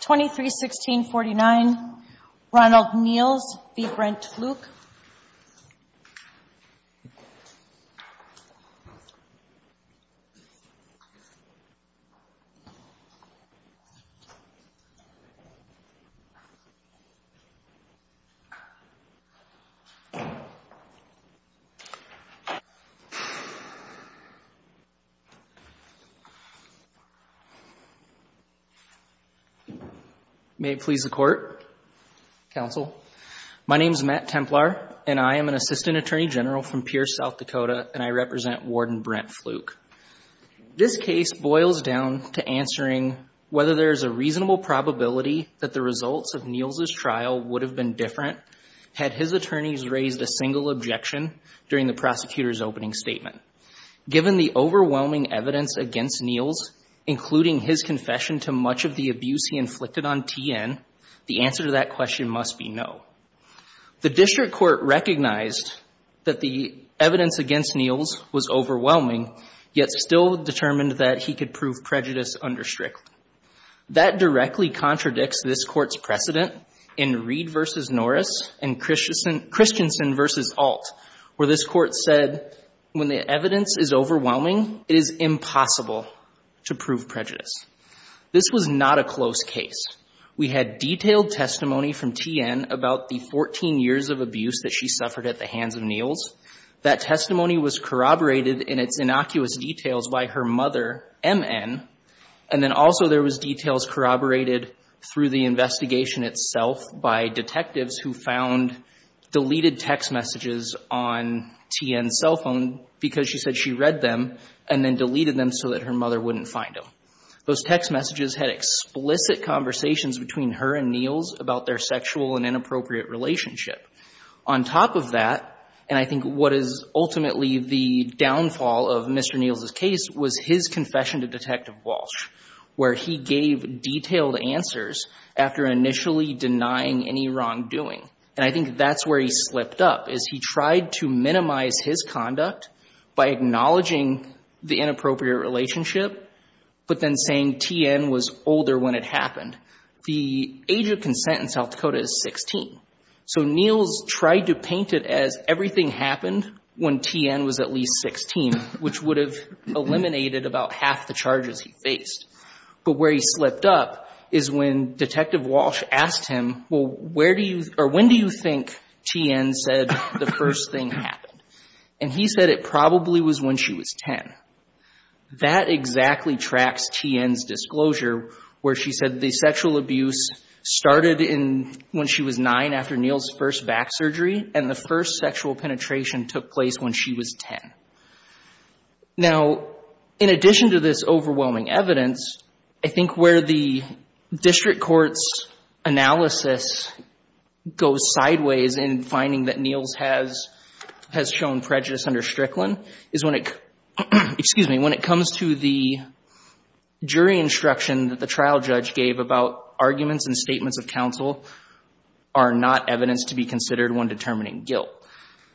231649 Ronald Neels v. Brent Fluke May it please the Court, Counsel. My name is Matt Templar, and I am an Assistant Attorney General from Pierce, South Dakota, and I represent Warden Brent Fluke. This case boils down to answering whether there is a reasonable probability that the results of Neels' trial would have been different had his attorneys raised a single objection during the prosecutor's opening statement. Given the overwhelming evidence against Neels, including his confession to much of the abuse he inflicted on T.N., the answer to that question must be no. The District Court recognized that the evidence against Neels was overwhelming, yet still determined that he could prove prejudice under strict. That directly contradicts this Court's precedent in Reed v. Norris and Christiansen v. Ault, where this Court said when the evidence is overwhelming, it is impossible to prove prejudice. This was not a close case. We had detailed testimony from T.N. about the 14 years of abuse that she suffered at the hands of Neels. That testimony was corroborated in its innocuous details by her mother, M.N., and then also there was details corroborated through the investigation itself by detectives who found deleted text messages on T.N.'s cell phone because she said she read them and then deleted them so that her mother wouldn't find them. Those text messages had explicit conversations between her and Neels about their sexual and inappropriate relationship. On top of that, and I think what is ultimately the downfall of Mr. Neels' case, was his confession to Detective Walsh, where he gave detailed answers after initially denying any wrongdoing. And I think that's where he slipped up, is he tried to minimize his conduct by acknowledging the inappropriate relationship, but then saying T.N. was older when it happened. The age of consent in South Dakota is 16, so Neels tried to paint it as everything happened when T.N. was at least 16, which would have eliminated about half the charges he faced. But where he slipped up is when Detective Walsh asked him, well, when do you think T.N. said the first thing happened? And he said it probably was when she was 10. That exactly tracks T.N.'s disclosure where she said the sexual abuse started when she was 9 after Neels' first back surgery and the first sexual penetration took place when she was 10. Now, in addition to this overwhelming evidence, I think where the district court's analysis goes sideways in finding that Neels has shown prejudice under Strickland, is when it comes to the jury instruction that the trial judge gave about arguments and statements of counsel are not evidence to be considered when determining guilt.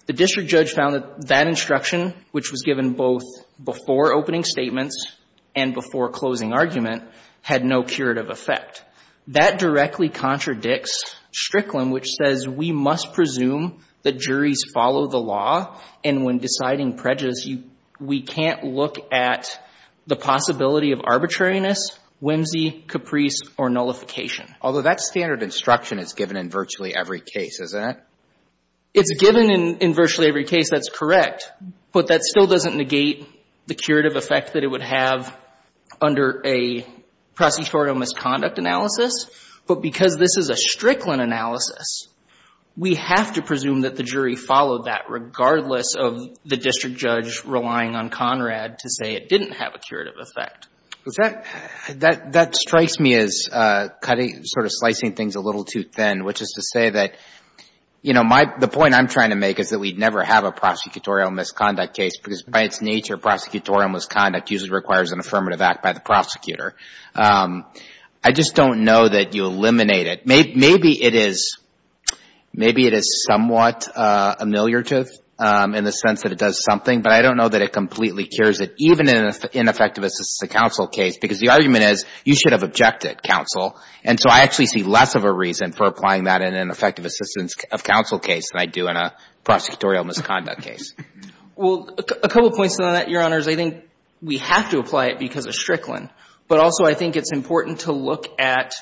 The district judge found that that instruction, which was given both before opening statements and before closing argument, had no curative effect. That directly contradicts Strickland, which says we must presume that juries follow the law, and when deciding prejudice, we can't look at the possibility of arbitrariness, whimsy, caprice, or nullification. Although that standard instruction is given in virtually every case, isn't it? It's given in virtually every case, that's correct. But that still doesn't negate the curative effect that it would have under a procedural misconduct analysis. But because this is a Strickland analysis, we have to presume that the jury followed that regardless of the district judge relying on Conrad to say it didn't have a curative effect. That strikes me as sort of slicing things a little too thin, which is to say that, you know, the point I'm trying to make is that we'd never have a prosecutorial misconduct case, because by its nature, prosecutorial misconduct usually requires an affirmative act by the prosecutor. I just don't know that you eliminate it. Maybe it is somewhat ameliorative in the sense that it does something, but I don't know that it completely cures it. And I don't think that's an effective assistance of counsel case, because the argument is you should have objected, counsel. And so I actually see less of a reason for applying that in an effective assistance of counsel case than I do in a prosecutorial misconduct case. Well, a couple points on that, Your Honors. I think we have to apply it because of Strickland. But also I think it's important to look at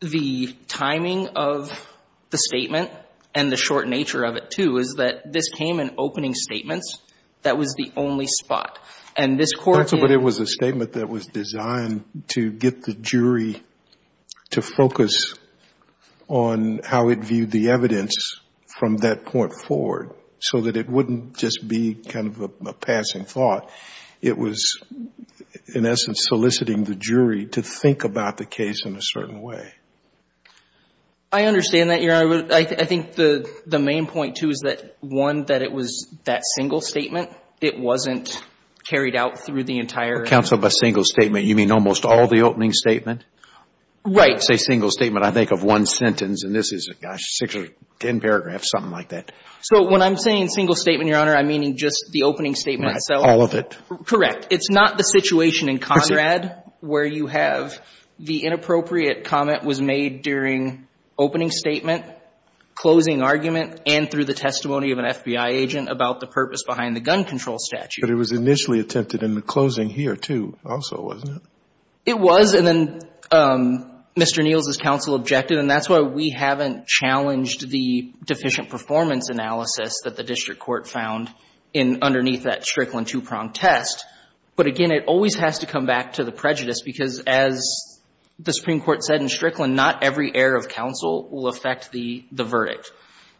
the timing of the statement and the short nature of it, too, is that this came in opening statements. That was the only spot. And this Court did. But it was a statement that was designed to get the jury to focus on how it viewed the evidence from that point forward, so that it wouldn't just be kind of a passing thought. It was, in essence, soliciting the jury to think about the case in a certain way. I understand that, Your Honor. I think the main point, too, is that, one, that it was that single statement. It wasn't carried out through the entire. Counsel, by single statement, you mean almost all the opening statement? Right. When I say single statement, I think of one sentence. And this is, gosh, six or ten paragraphs, something like that. So when I'm saying single statement, Your Honor, I'm meaning just the opening statement itself. All of it. Correct. It's not the situation in Conrad where you have the inappropriate comment was made during opening statement, closing argument, and through the testimony of an FBI agent about the purpose behind the gun control statute. But it was initially attempted in the closing here, too, also, wasn't it? It was. And then Mr. Neils' counsel objected. And that's why we haven't challenged the deficient performance analysis that the district court found underneath that Strickland two-prong test. But, again, it always has to come back to the prejudice because, as the Supreme Court said in Strickland, not every error of counsel will affect the verdict.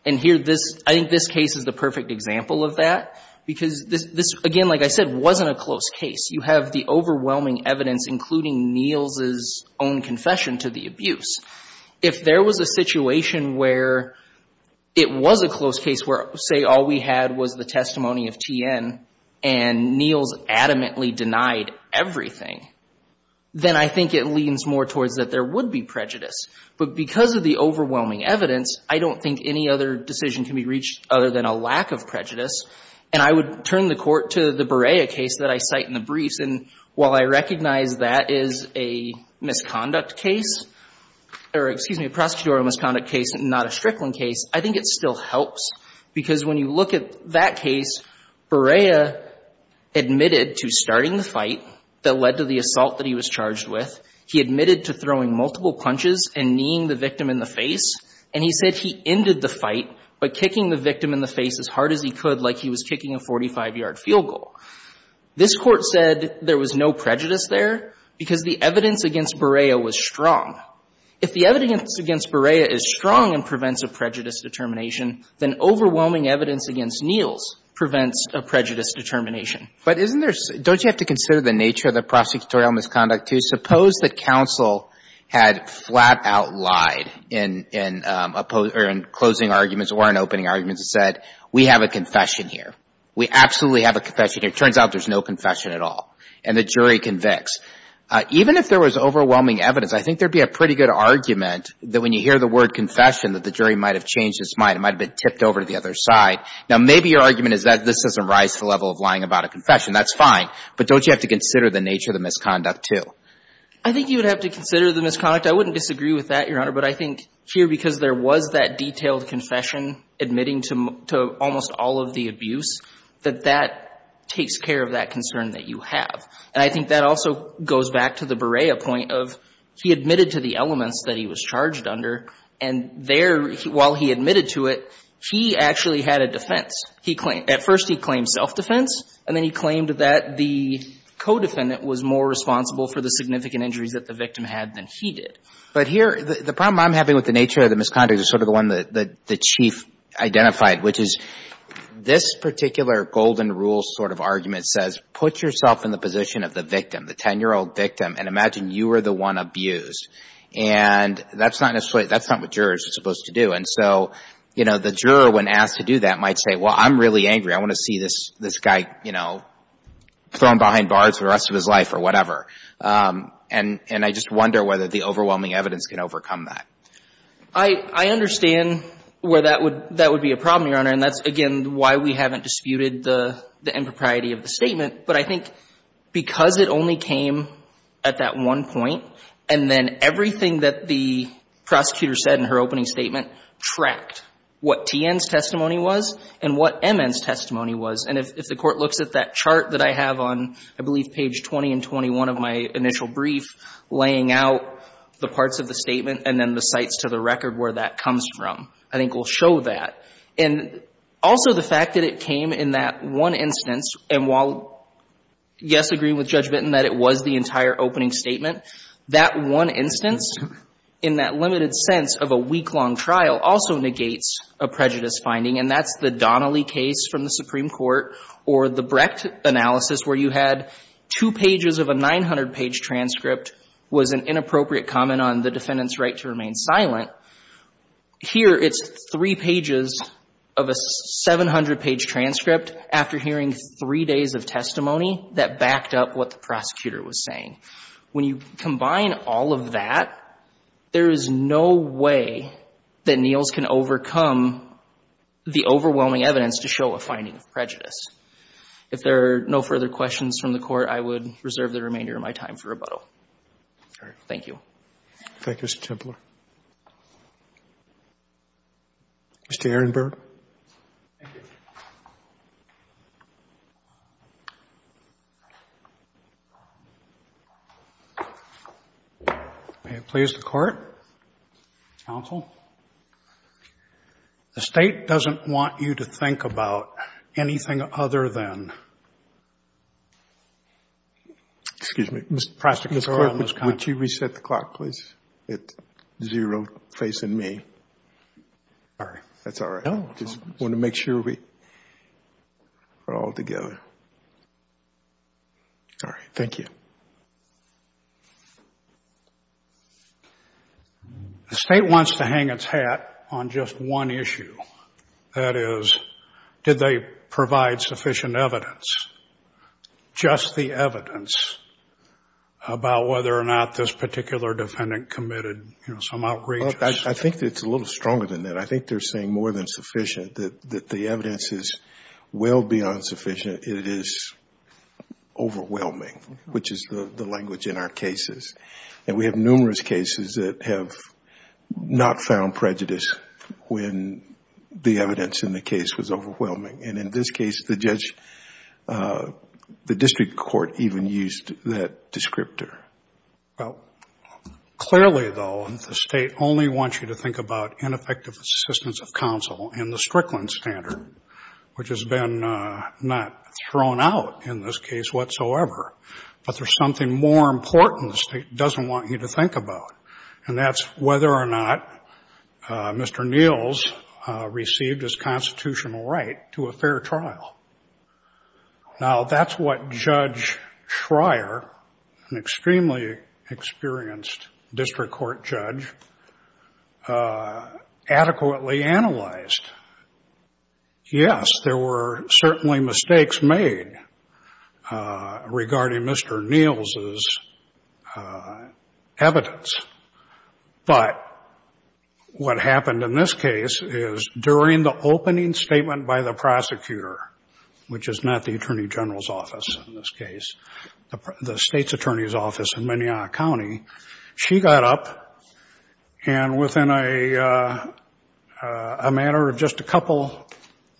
And here, I think this case is the perfect example of that because this, again, like I said, wasn't a close case. You have the overwhelming evidence, including Neils' own confession to the abuse. If there was a situation where it was a close case where, say, all we had was the testimony of T.N. and Neils adamantly denied everything, then I think it leans more towards that there would be prejudice. But because of the overwhelming evidence, I don't think any other decision can be reached other than a lack of prejudice. And I would turn the court to the Barea case that I cite in the briefs. And while I recognize that is a misconduct case or, excuse me, a prosecutorial misconduct case and not a Strickland case, I think it still helps because when you look at that case, Barea admitted to starting the fight that led to the assault that he was charged with. He admitted to throwing multiple punches and kneeing the victim in the face. And he said he ended the fight by kicking the victim in the face as hard as he could like he was kicking a 45-yard field goal. This Court said there was no prejudice there because the evidence against Barea was strong. If the evidence against Barea is strong and prevents a prejudice determination, then overwhelming evidence against Neils prevents a prejudice determination. But isn't there — don't you have to consider the nature of the prosecutorial misconduct, too? Suppose that counsel had flat-out lied in closing arguments or in opening arguments and said, we have a confession here. We absolutely have a confession here. It turns out there's no confession at all. And the jury convicts. Even if there was overwhelming evidence, I think there would be a pretty good argument that when you hear the word confession, that the jury might have changed its mind. It might have been tipped over to the other side. Now, maybe your argument is that this doesn't rise to the level of lying about a confession. That's fine. But don't you have to consider the nature of the misconduct, too? I think you would have to consider the misconduct. I wouldn't disagree with that, Your Honor. But I think here, because there was that detailed confession admitting to almost all of the abuse, that that takes care of that concern that you have. And I think that also goes back to the Barea point of he admitted to the elements that he was charged under, and there, while he admitted to it, he actually had a defense. At first he claimed self-defense, and then he claimed that the co-defendant was more responsible for the significant injuries that the victim had than he did. But here, the problem I'm having with the nature of the misconduct is sort of the one that the Chief identified, which is this particular golden rule sort of argument says put yourself in the position of the victim, the 10-year-old victim, and imagine you were the one abused. And that's not necessarily — that's not what jurors are supposed to do. And so, you know, the juror, when asked to do that, might say, well, I'm really angry. I want to see this guy, you know, thrown behind bars for the rest of his life or whatever. And I just wonder whether the overwhelming evidence can overcome that. I understand where that would be a problem, Your Honor. And that's, again, why we haven't disputed the impropriety of the statement. But I think because it only came at that one point, and then everything that the prosecutor said in her opening statement tracked what T.N.'s testimony was and what M.N.'s testimony was. And if the Court looks at that chart that I have on, I believe, page 20 and 21 of my initial brief laying out the parts of the statement and then the sites to the record where that came in that one instance. And while, yes, agree with Judge Bitton that it was the entire opening statement, that one instance, in that limited sense of a week-long trial, also negates a prejudice finding. And that's the Donnelly case from the Supreme Court or the Brecht analysis where you had two pages of a 900-page transcript was an inappropriate comment on the defendant's right to remain silent. Here, it's three pages of a 700-page transcript after hearing three days of testimony that backed up what the prosecutor was saying. When you combine all of that, there is no way that Niels can overcome the overwhelming evidence to show a finding of prejudice. If there are no further questions from the Court, I would reserve the remainder of my time for rebuttal. Thank you. Thank you, Mr. Templer. Mr. Ehrenberg. Thank you. May it please the Court, Counsel. The State doesn't want you to think about anything other than Excuse me. Mr. Pratt. Mr. Clark, would you reset the clock, please? It's zero facing me. Sorry. That's all right. I just want to make sure we are all together. All right. Thank you. The State wants to hang its hat on just one issue. That is, did they provide sufficient evidence, just the evidence, about whether or not this particular defendant committed some outrageous I think it's a little stronger than that. I think they're saying more than sufficient, that the evidence is well beyond sufficient. It is overwhelming, which is the language in our cases. And we have numerous cases that have not found prejudice when the evidence in the case was overwhelming. And in this case, the judge, the district court even used that descriptor. Well, clearly, though, the State only wants you to think about ineffective assistance of counsel in the Strickland standard, which has been not thrown out in this case whatsoever. But there's something more important the State doesn't want you to think about. And that's whether or not Mr. Neils received his constitutional right to a fair trial. Now, that's what Judge Schreier, an extremely experienced district court judge, adequately analyzed. Yes, there were certainly mistakes made regarding Mr. Neils' evidence. But what happened in this case is, during the opening statement by the prosecutor, which is not the attorney general's office in this case, the State's attorney's office in Minneapolis County, she got up and within a matter of just a couple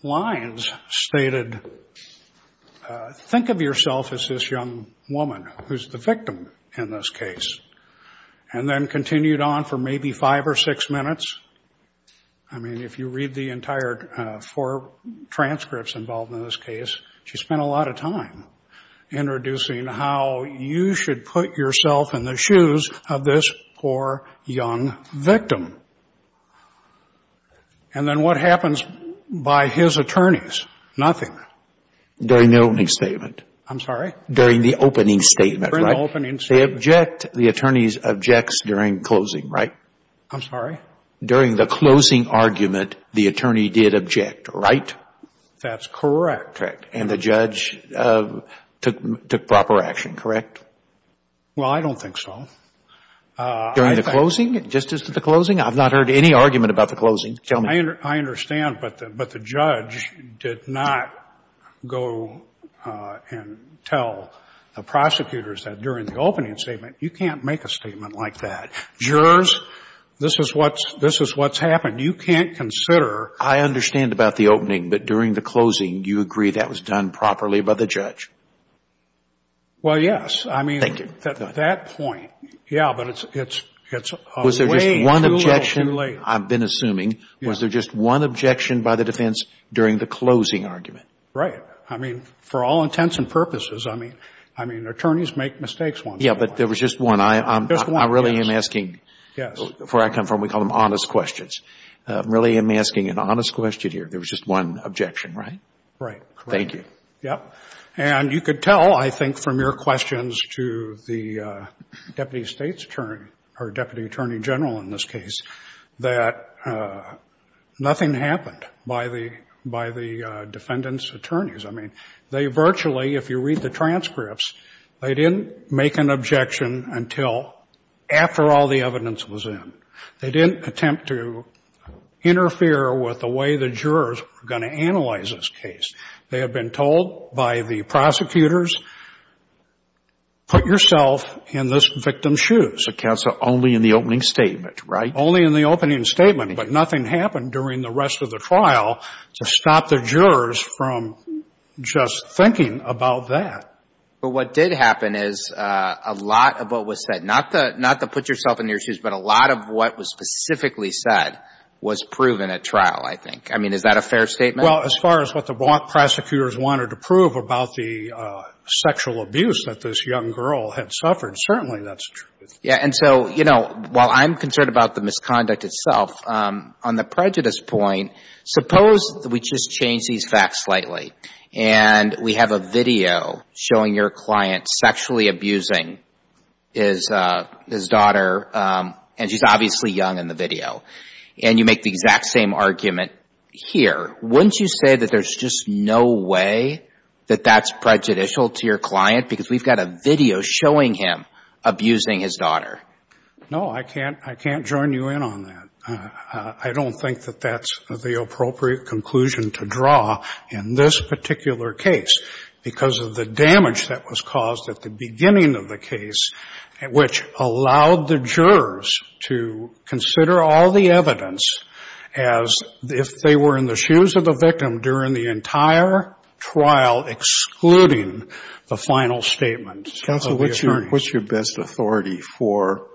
lines stated, think of yourself as this young woman who's the victim in this case, and then continued on for maybe five or six minutes. I mean, if you read the entire four transcripts involved in this case, she spent a lot of time introducing how you should put yourself in the shoes of this poor young victim. And then what happens by his attorneys? Nothing. During the opening statement. I'm sorry? During the opening statement, right? The attorneys objects during closing, right? I'm sorry? During the closing argument, the attorney did object, right? That's correct. Correct. And the judge took proper action, correct? Well, I don't think so. During the closing? Just at the closing? I've not heard any argument about the closing. Tell me. I understand. But the judge did not go and tell the prosecutors that during the opening statement, you can't make a statement like that. Jurors, this is what's happened. You can't consider. I understand about the opening. But during the closing, you agree that was done properly by the judge? Well, yes. Thank you. I mean, at that point, yeah, but it's a way too late. Was there just one objection? I've been assuming. Was there just one objection by the defense during the closing argument? Right. I mean, for all intents and purposes, I mean, attorneys make mistakes but there was just one. Yeah, but there was just one. I really am asking, before I confirm, we call them honest questions. I really am asking an honest question here. There was just one objection, right? Right. Thank you. Yep. And you could tell, I think, from your questions to the Deputy State's Attorney or Deputy Attorney General in this case, that nothing happened by the defendant's attorneys. I mean, they virtually, if you read the transcripts, they didn't make an objection until after all the evidence was in. They didn't attempt to interfere with the way the jurors were going to analyze this case. They had been told by the prosecutors, put yourself in this victim's shoes. So, counsel, only in the opening statement, right? Only in the opening statement, but nothing happened during the rest of the trial to stop the jurors from just thinking about that. But what did happen is a lot of what was said, not the put yourself in their shoes, but a lot of what was specifically said was proven at trial, I think. I mean, is that a fair statement? Well, as far as what the prosecutors wanted to prove about the sexual abuse that this young girl had suffered, certainly that's true. Yeah. And so, you know, while I'm concerned about the misconduct itself, on the prejudice point, suppose we just change these facts slightly and we have a video showing your client sexually abusing his daughter, and she's obviously young in the video, and you make the exact same argument here. Wouldn't you say that there's just no way that that's prejudicial to your client because we've got a video showing him abusing his daughter? No, I can't join you in on that. I don't think that that's the appropriate conclusion to draw in this particular case because of the damage that was caused at the beginning of the case, which allowed the jurors to consider all the evidence as if they were in the shoes of a victim during the entire trial, excluding the final statement of the attorney. Counsel, what's your best authority for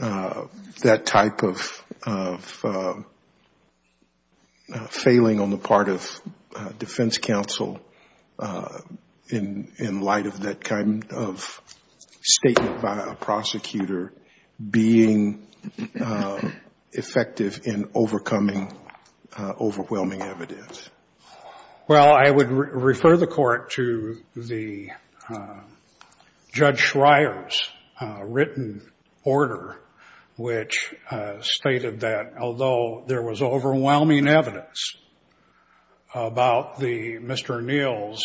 that type of failing on the part of defense counsel in light of that kind of statement by a prosecutor being effective in overcoming overwhelming evidence? Well, I would refer the Court to the Judge Schreier's written order, which stated that although there was overwhelming evidence about Mr. Neal's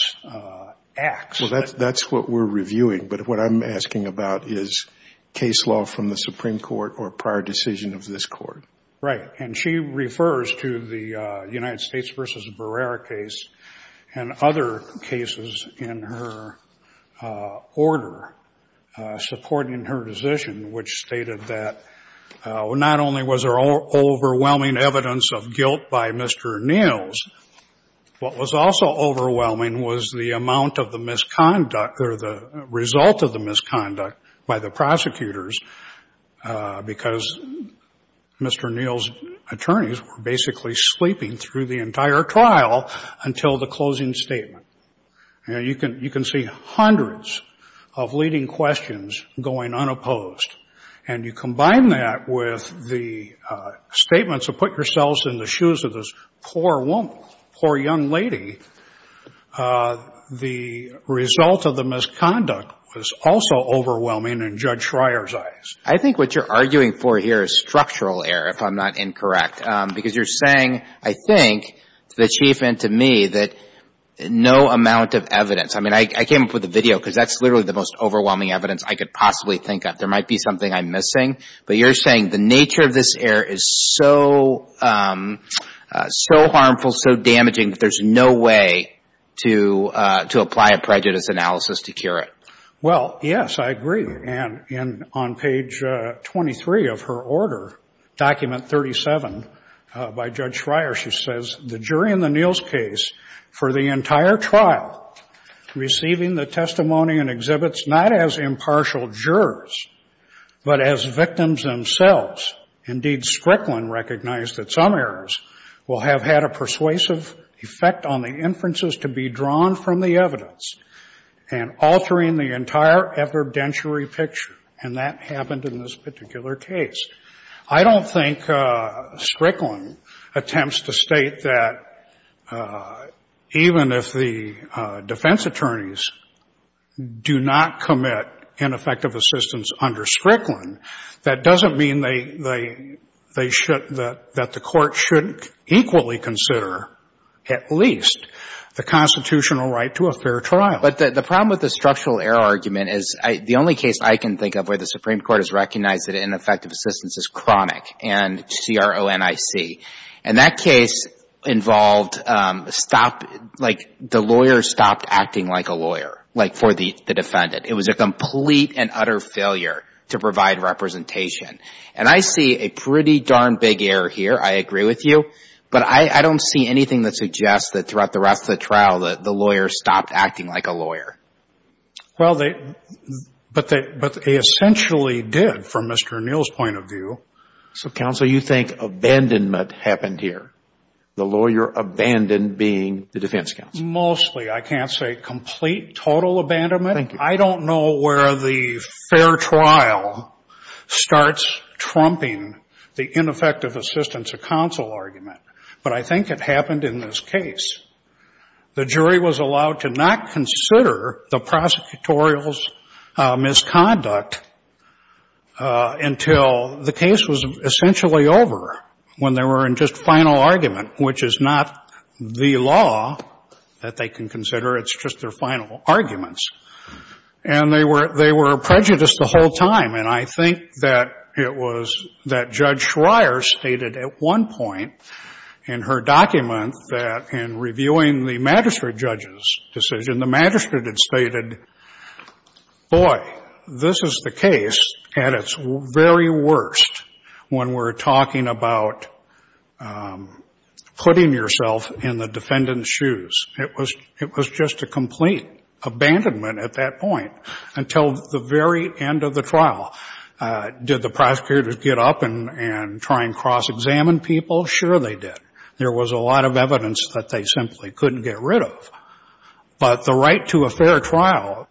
acts... Well, that's what we're reviewing, but what I'm asking about is case law from the Supreme Court or prior decision of this Court. Right, and she refers to the United States v. Barrera case and other cases in her order supporting her decision, which stated that not only was there overwhelming evidence of guilt by Mr. Neal's, what was also overwhelming was the amount of the misconduct or the result of the misconduct by the prosecutors because Mr. Neal's attorneys were basically sleeping through the entire trial until the closing statement. You know, you can see hundreds of leading questions going unopposed, and you combine that with the statements of put yourselves in the shoes of this poor woman, poor young lady, the result of the misconduct was also overwhelming in Judge Schreier's eyes. I think what you're arguing for here is structural error, if I'm not incorrect, because you're saying, I think, to the Chief and to me, that no amount of evidence I mean, I came up with the video because that's literally the most overwhelming evidence I could possibly think of. There might be something I'm missing, but you're saying the nature of this error is so harmful, so damaging, that there's no way to apply a prejudice analysis to cure it. Well, yes, I agree. And on page 23 of her order, document 37 by Judge Schreier, she says, the jury in the Neal's case for the entire trial receiving the testimony and exhibits not as impartial jurors, but as victims themselves. Indeed, Strickland recognized that some errors will have had a persuasive effect on the inferences to be drawn from the evidence, and altering the entire evidentiary picture. And that happened in this particular case. I don't think Strickland attempts to state that even if the defense attorneys do not commit ineffective assistance under Strickland, that doesn't mean they shouldn't – that the Court shouldn't equally consider at least the constitutional right to a fair trial. But the problem with the structural error argument is the only case I can think of where the Supreme Court has recognized that ineffective assistance is chronic and C-R-O-N-I-C. And that case involved stop – like, the lawyer stopped acting like a lawyer, like, for the defendant. It was a complete and utter failure to provide representation. And I see a pretty darn big error here. I agree with you. But I don't see anything that suggests that throughout the rest of the trial, the lawyer stopped acting like a lawyer. Well, they – but they essentially did, from Mr. O'Neill's point of view. So, Counsel, you think abandonment happened here, the lawyer abandoned being the defense counsel? Mostly. I can't say complete, total abandonment. Thank you. I don't know where the fair trial starts trumping the ineffective assistance of counsel argument. But I think it happened in this case. The jury was allowed to not consider the prosecutorial's misconduct until the case was essentially over, when they were in just final argument, which is not the law that they can consider. It's just their final arguments. And they were prejudiced the whole time. And I think that it was – that Judge Schreier stated at one point in her document that in reviewing the magistrate judge's decision, the magistrate had stated, boy, this is the case at its very worst when we're talking about putting yourself in the defendant's shoes. It was just a complete abandonment at that point until the very end of the trial. Did the prosecutors get up and try and cross-examine people? Sure, they did. There was a lot of evidence that they simply couldn't get rid of. But the right to a fair trial,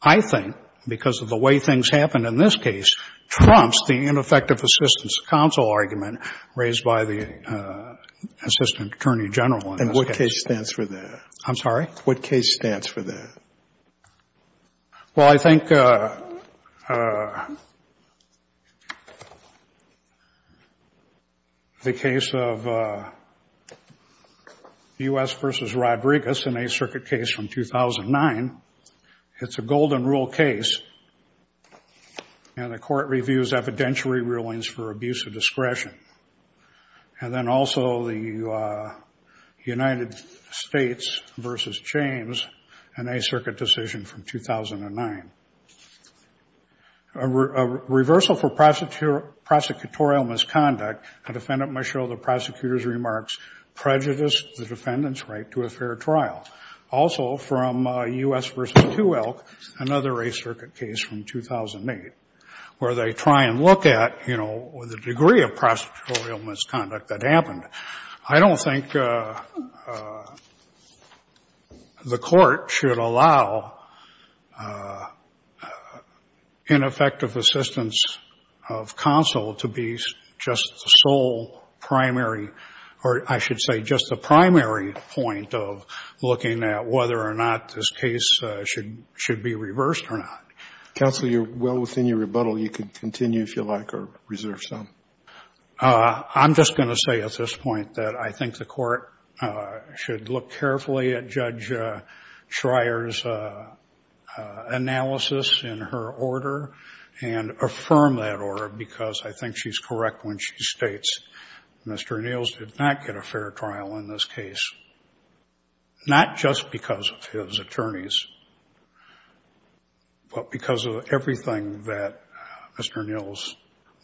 I think, because of the way things happened in this case, trumps the ineffective assistance of counsel argument raised by the assistant attorney general in this case. And what case stands for that? I'm sorry? What case stands for that? Well, I think the case of U.S. v. Rodriguez in a circuit case from 2009, it's a golden rule case. And the court reviews evidentiary rulings for abuse of discretion. And then also the United States v. James in a circuit decision from 2009. A reversal for prosecutorial misconduct, a defendant must show the prosecutor's remarks prejudice the defendant's right to a fair trial. Also from U.S. v. Tuilk, another a circuit case from 2008, where they try and look at, you know, the degree of prosecutorial misconduct that happened. I don't think the court should allow ineffective assistance of counsel to be just the sole primary, or I should say just the primary point of looking at whether or not this case should be reversed or not. Counsel, you're well within your rebuttal. You can continue, if you like, or reserve some. I'm just going to say at this point that I think the court should look carefully at Judge Schreier's analysis in her order and affirm that order, because I think she's correct when she states Mr. Niels did not get a fair trial in this case, not just because of his attorneys, but because of everything that Mr. Niels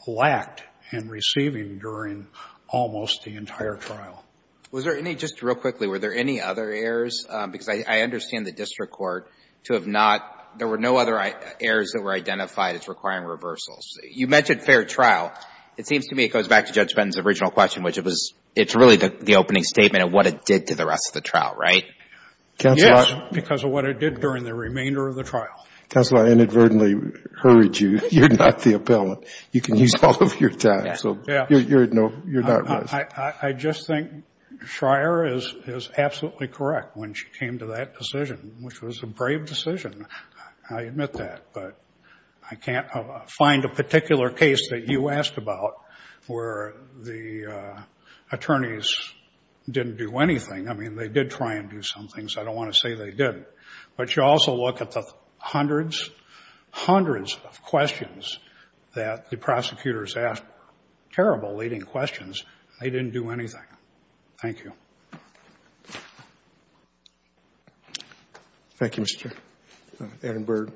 lacked in receiving during almost the entire trial. Was there any, just real quickly, were there any other errors? Because I understand the district court to have not, there were no other errors that were identified as requiring reversals. You mentioned fair trial. It seems to me it goes back to Judge Benton's original question, which it was, it's really the opening statement of what it did to the rest of the trial, right? Yes, because of what it did during the remainder of the trial. Counsel, I inadvertently hurried you. You're not the appellant. You can use all of your time, so you're not. I just think Schreier is absolutely correct when she came to that decision, which was a brave decision. I admit that. But I can't find a particular case that you asked about where the attorneys didn't do anything. I mean, they did try and do some things. I don't want to say they didn't. But you also look at the hundreds, hundreds of questions that the prosecutors asked, terrible leading questions. They didn't do anything. Thank you. Thank you, Mr. Ehrenberg.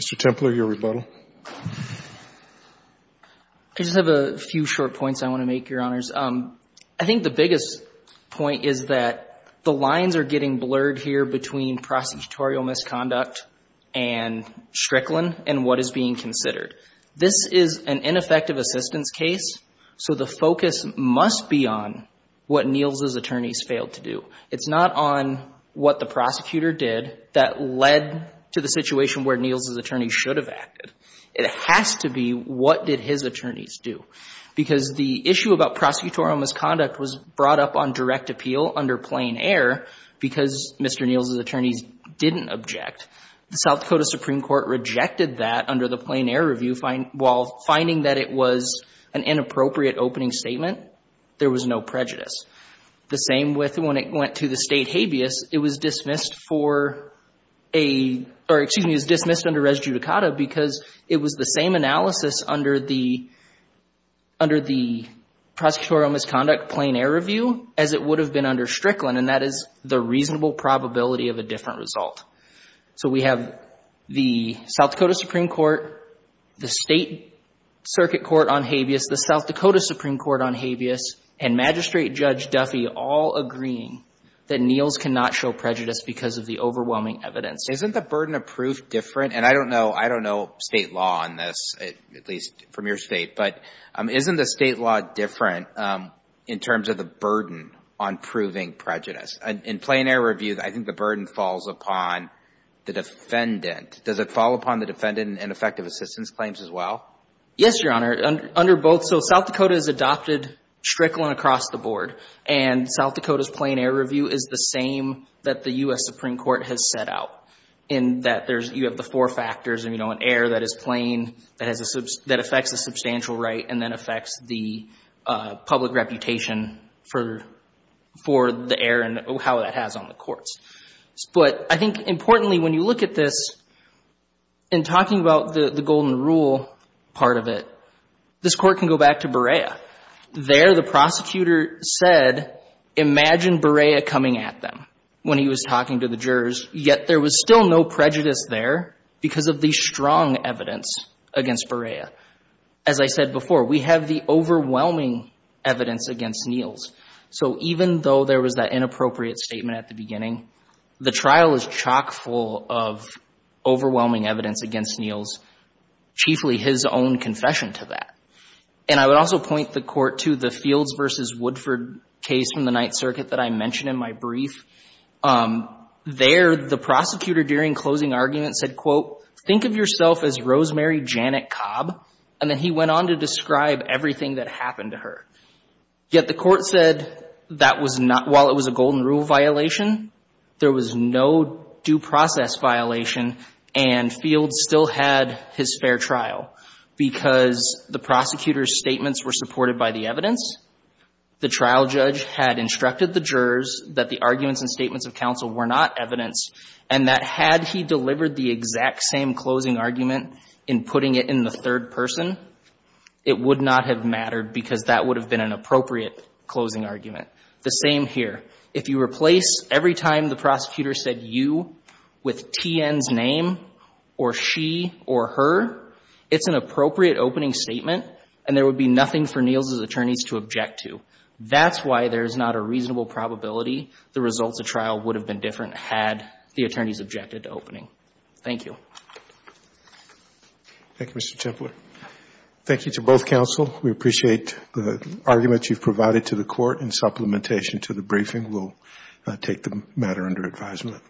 Mr. Templer, your rebuttal. I just have a few short points I want to make, Your Honors. I think the biggest point is that the lines are getting blurred here between prosecutorial misconduct and Strickland and what is being considered. This is an ineffective assistance case. So the focus must be on what Niels' attorneys failed to do. It's not on what the prosecutor did that led to the situation where Niels' attorneys should have acted. It has to be what did his attorneys do. Because the issue about prosecutorial misconduct was brought up on direct appeal under plain air because Mr. Niels' attorneys didn't object. The South Dakota Supreme Court rejected that under the plain air review while finding that it was an inappropriate opening statement. There was no prejudice. The same with when it went to the state habeas. It was dismissed for a, or excuse me, it was dismissed under res judicata because it was the same analysis under the prosecutorial misconduct plain air review as it would have been under Strickland, and that is the reasonable probability of a different result. So we have the South Dakota Supreme Court, the State Circuit Court on habeas, the South Dakota Supreme Court on habeas, and Magistrate Judge Duffy all agreeing that Niels cannot show prejudice because of the overwhelming evidence. Isn't the burden of proof different? And I don't know, I don't know state law on this, at least from your state, but isn't the state law different in terms of the burden on proving prejudice? In plain air review, I think the burden falls upon the defendant. Does it fall upon the defendant in effective assistance claims as well? Yes, Your Honor, under both. So South Dakota has adopted Strickland across the board, and South Dakota's plain air review is the same that the U.S. Supreme Court has set out in that there's, you have the four factors, and you know, an air that is plain that affects a substantial right and then affects the public reputation for the air and how that has on the courts. But I think, importantly, when you look at this, in talking about the golden rule part of it, this Court can go back to Barea. There, the prosecutor said, imagine Barea coming at them when he was talking to the jurors, yet there was still no prejudice there because of the strong evidence against Barea. As I said before, we have the overwhelming evidence against Niels. So even though there was that inappropriate statement at the beginning, the trial is chock full of overwhelming evidence against Niels, chiefly his own confession to that. And I would also point the Court to the Fields v. Woodford case from the Ninth Circuit that I mentioned in my brief. There, the prosecutor during closing argument said, quote, think of yourself as Rosemary Janet Cobb, and then he went on to describe everything that happened to her. Yet the Court said that was not — while it was a golden rule violation, there was no due process violation, and Fields still had his fair trial because the prosecutor's statements were supported by the evidence, the trial judge had instructed the jurors that the arguments and statements of counsel were not evidence, and that had he delivered the exact same closing argument in putting it in the third person, it would not have mattered because that would have been an appropriate closing argument. The same here. If you replace every time the prosecutor said you with T.N.'s name or she or her, it's an appropriate opening statement, and there would be nothing for Niels' attorneys to object to. That's why there's not a reasonable probability the results of trial would have been different had the attorneys objected to opening. Thank you. Thank you, Mr. Chempler. Thank you to both counsel. We appreciate the arguments you've provided to the Court in supplementation to the briefing. We'll take the matter under advisement.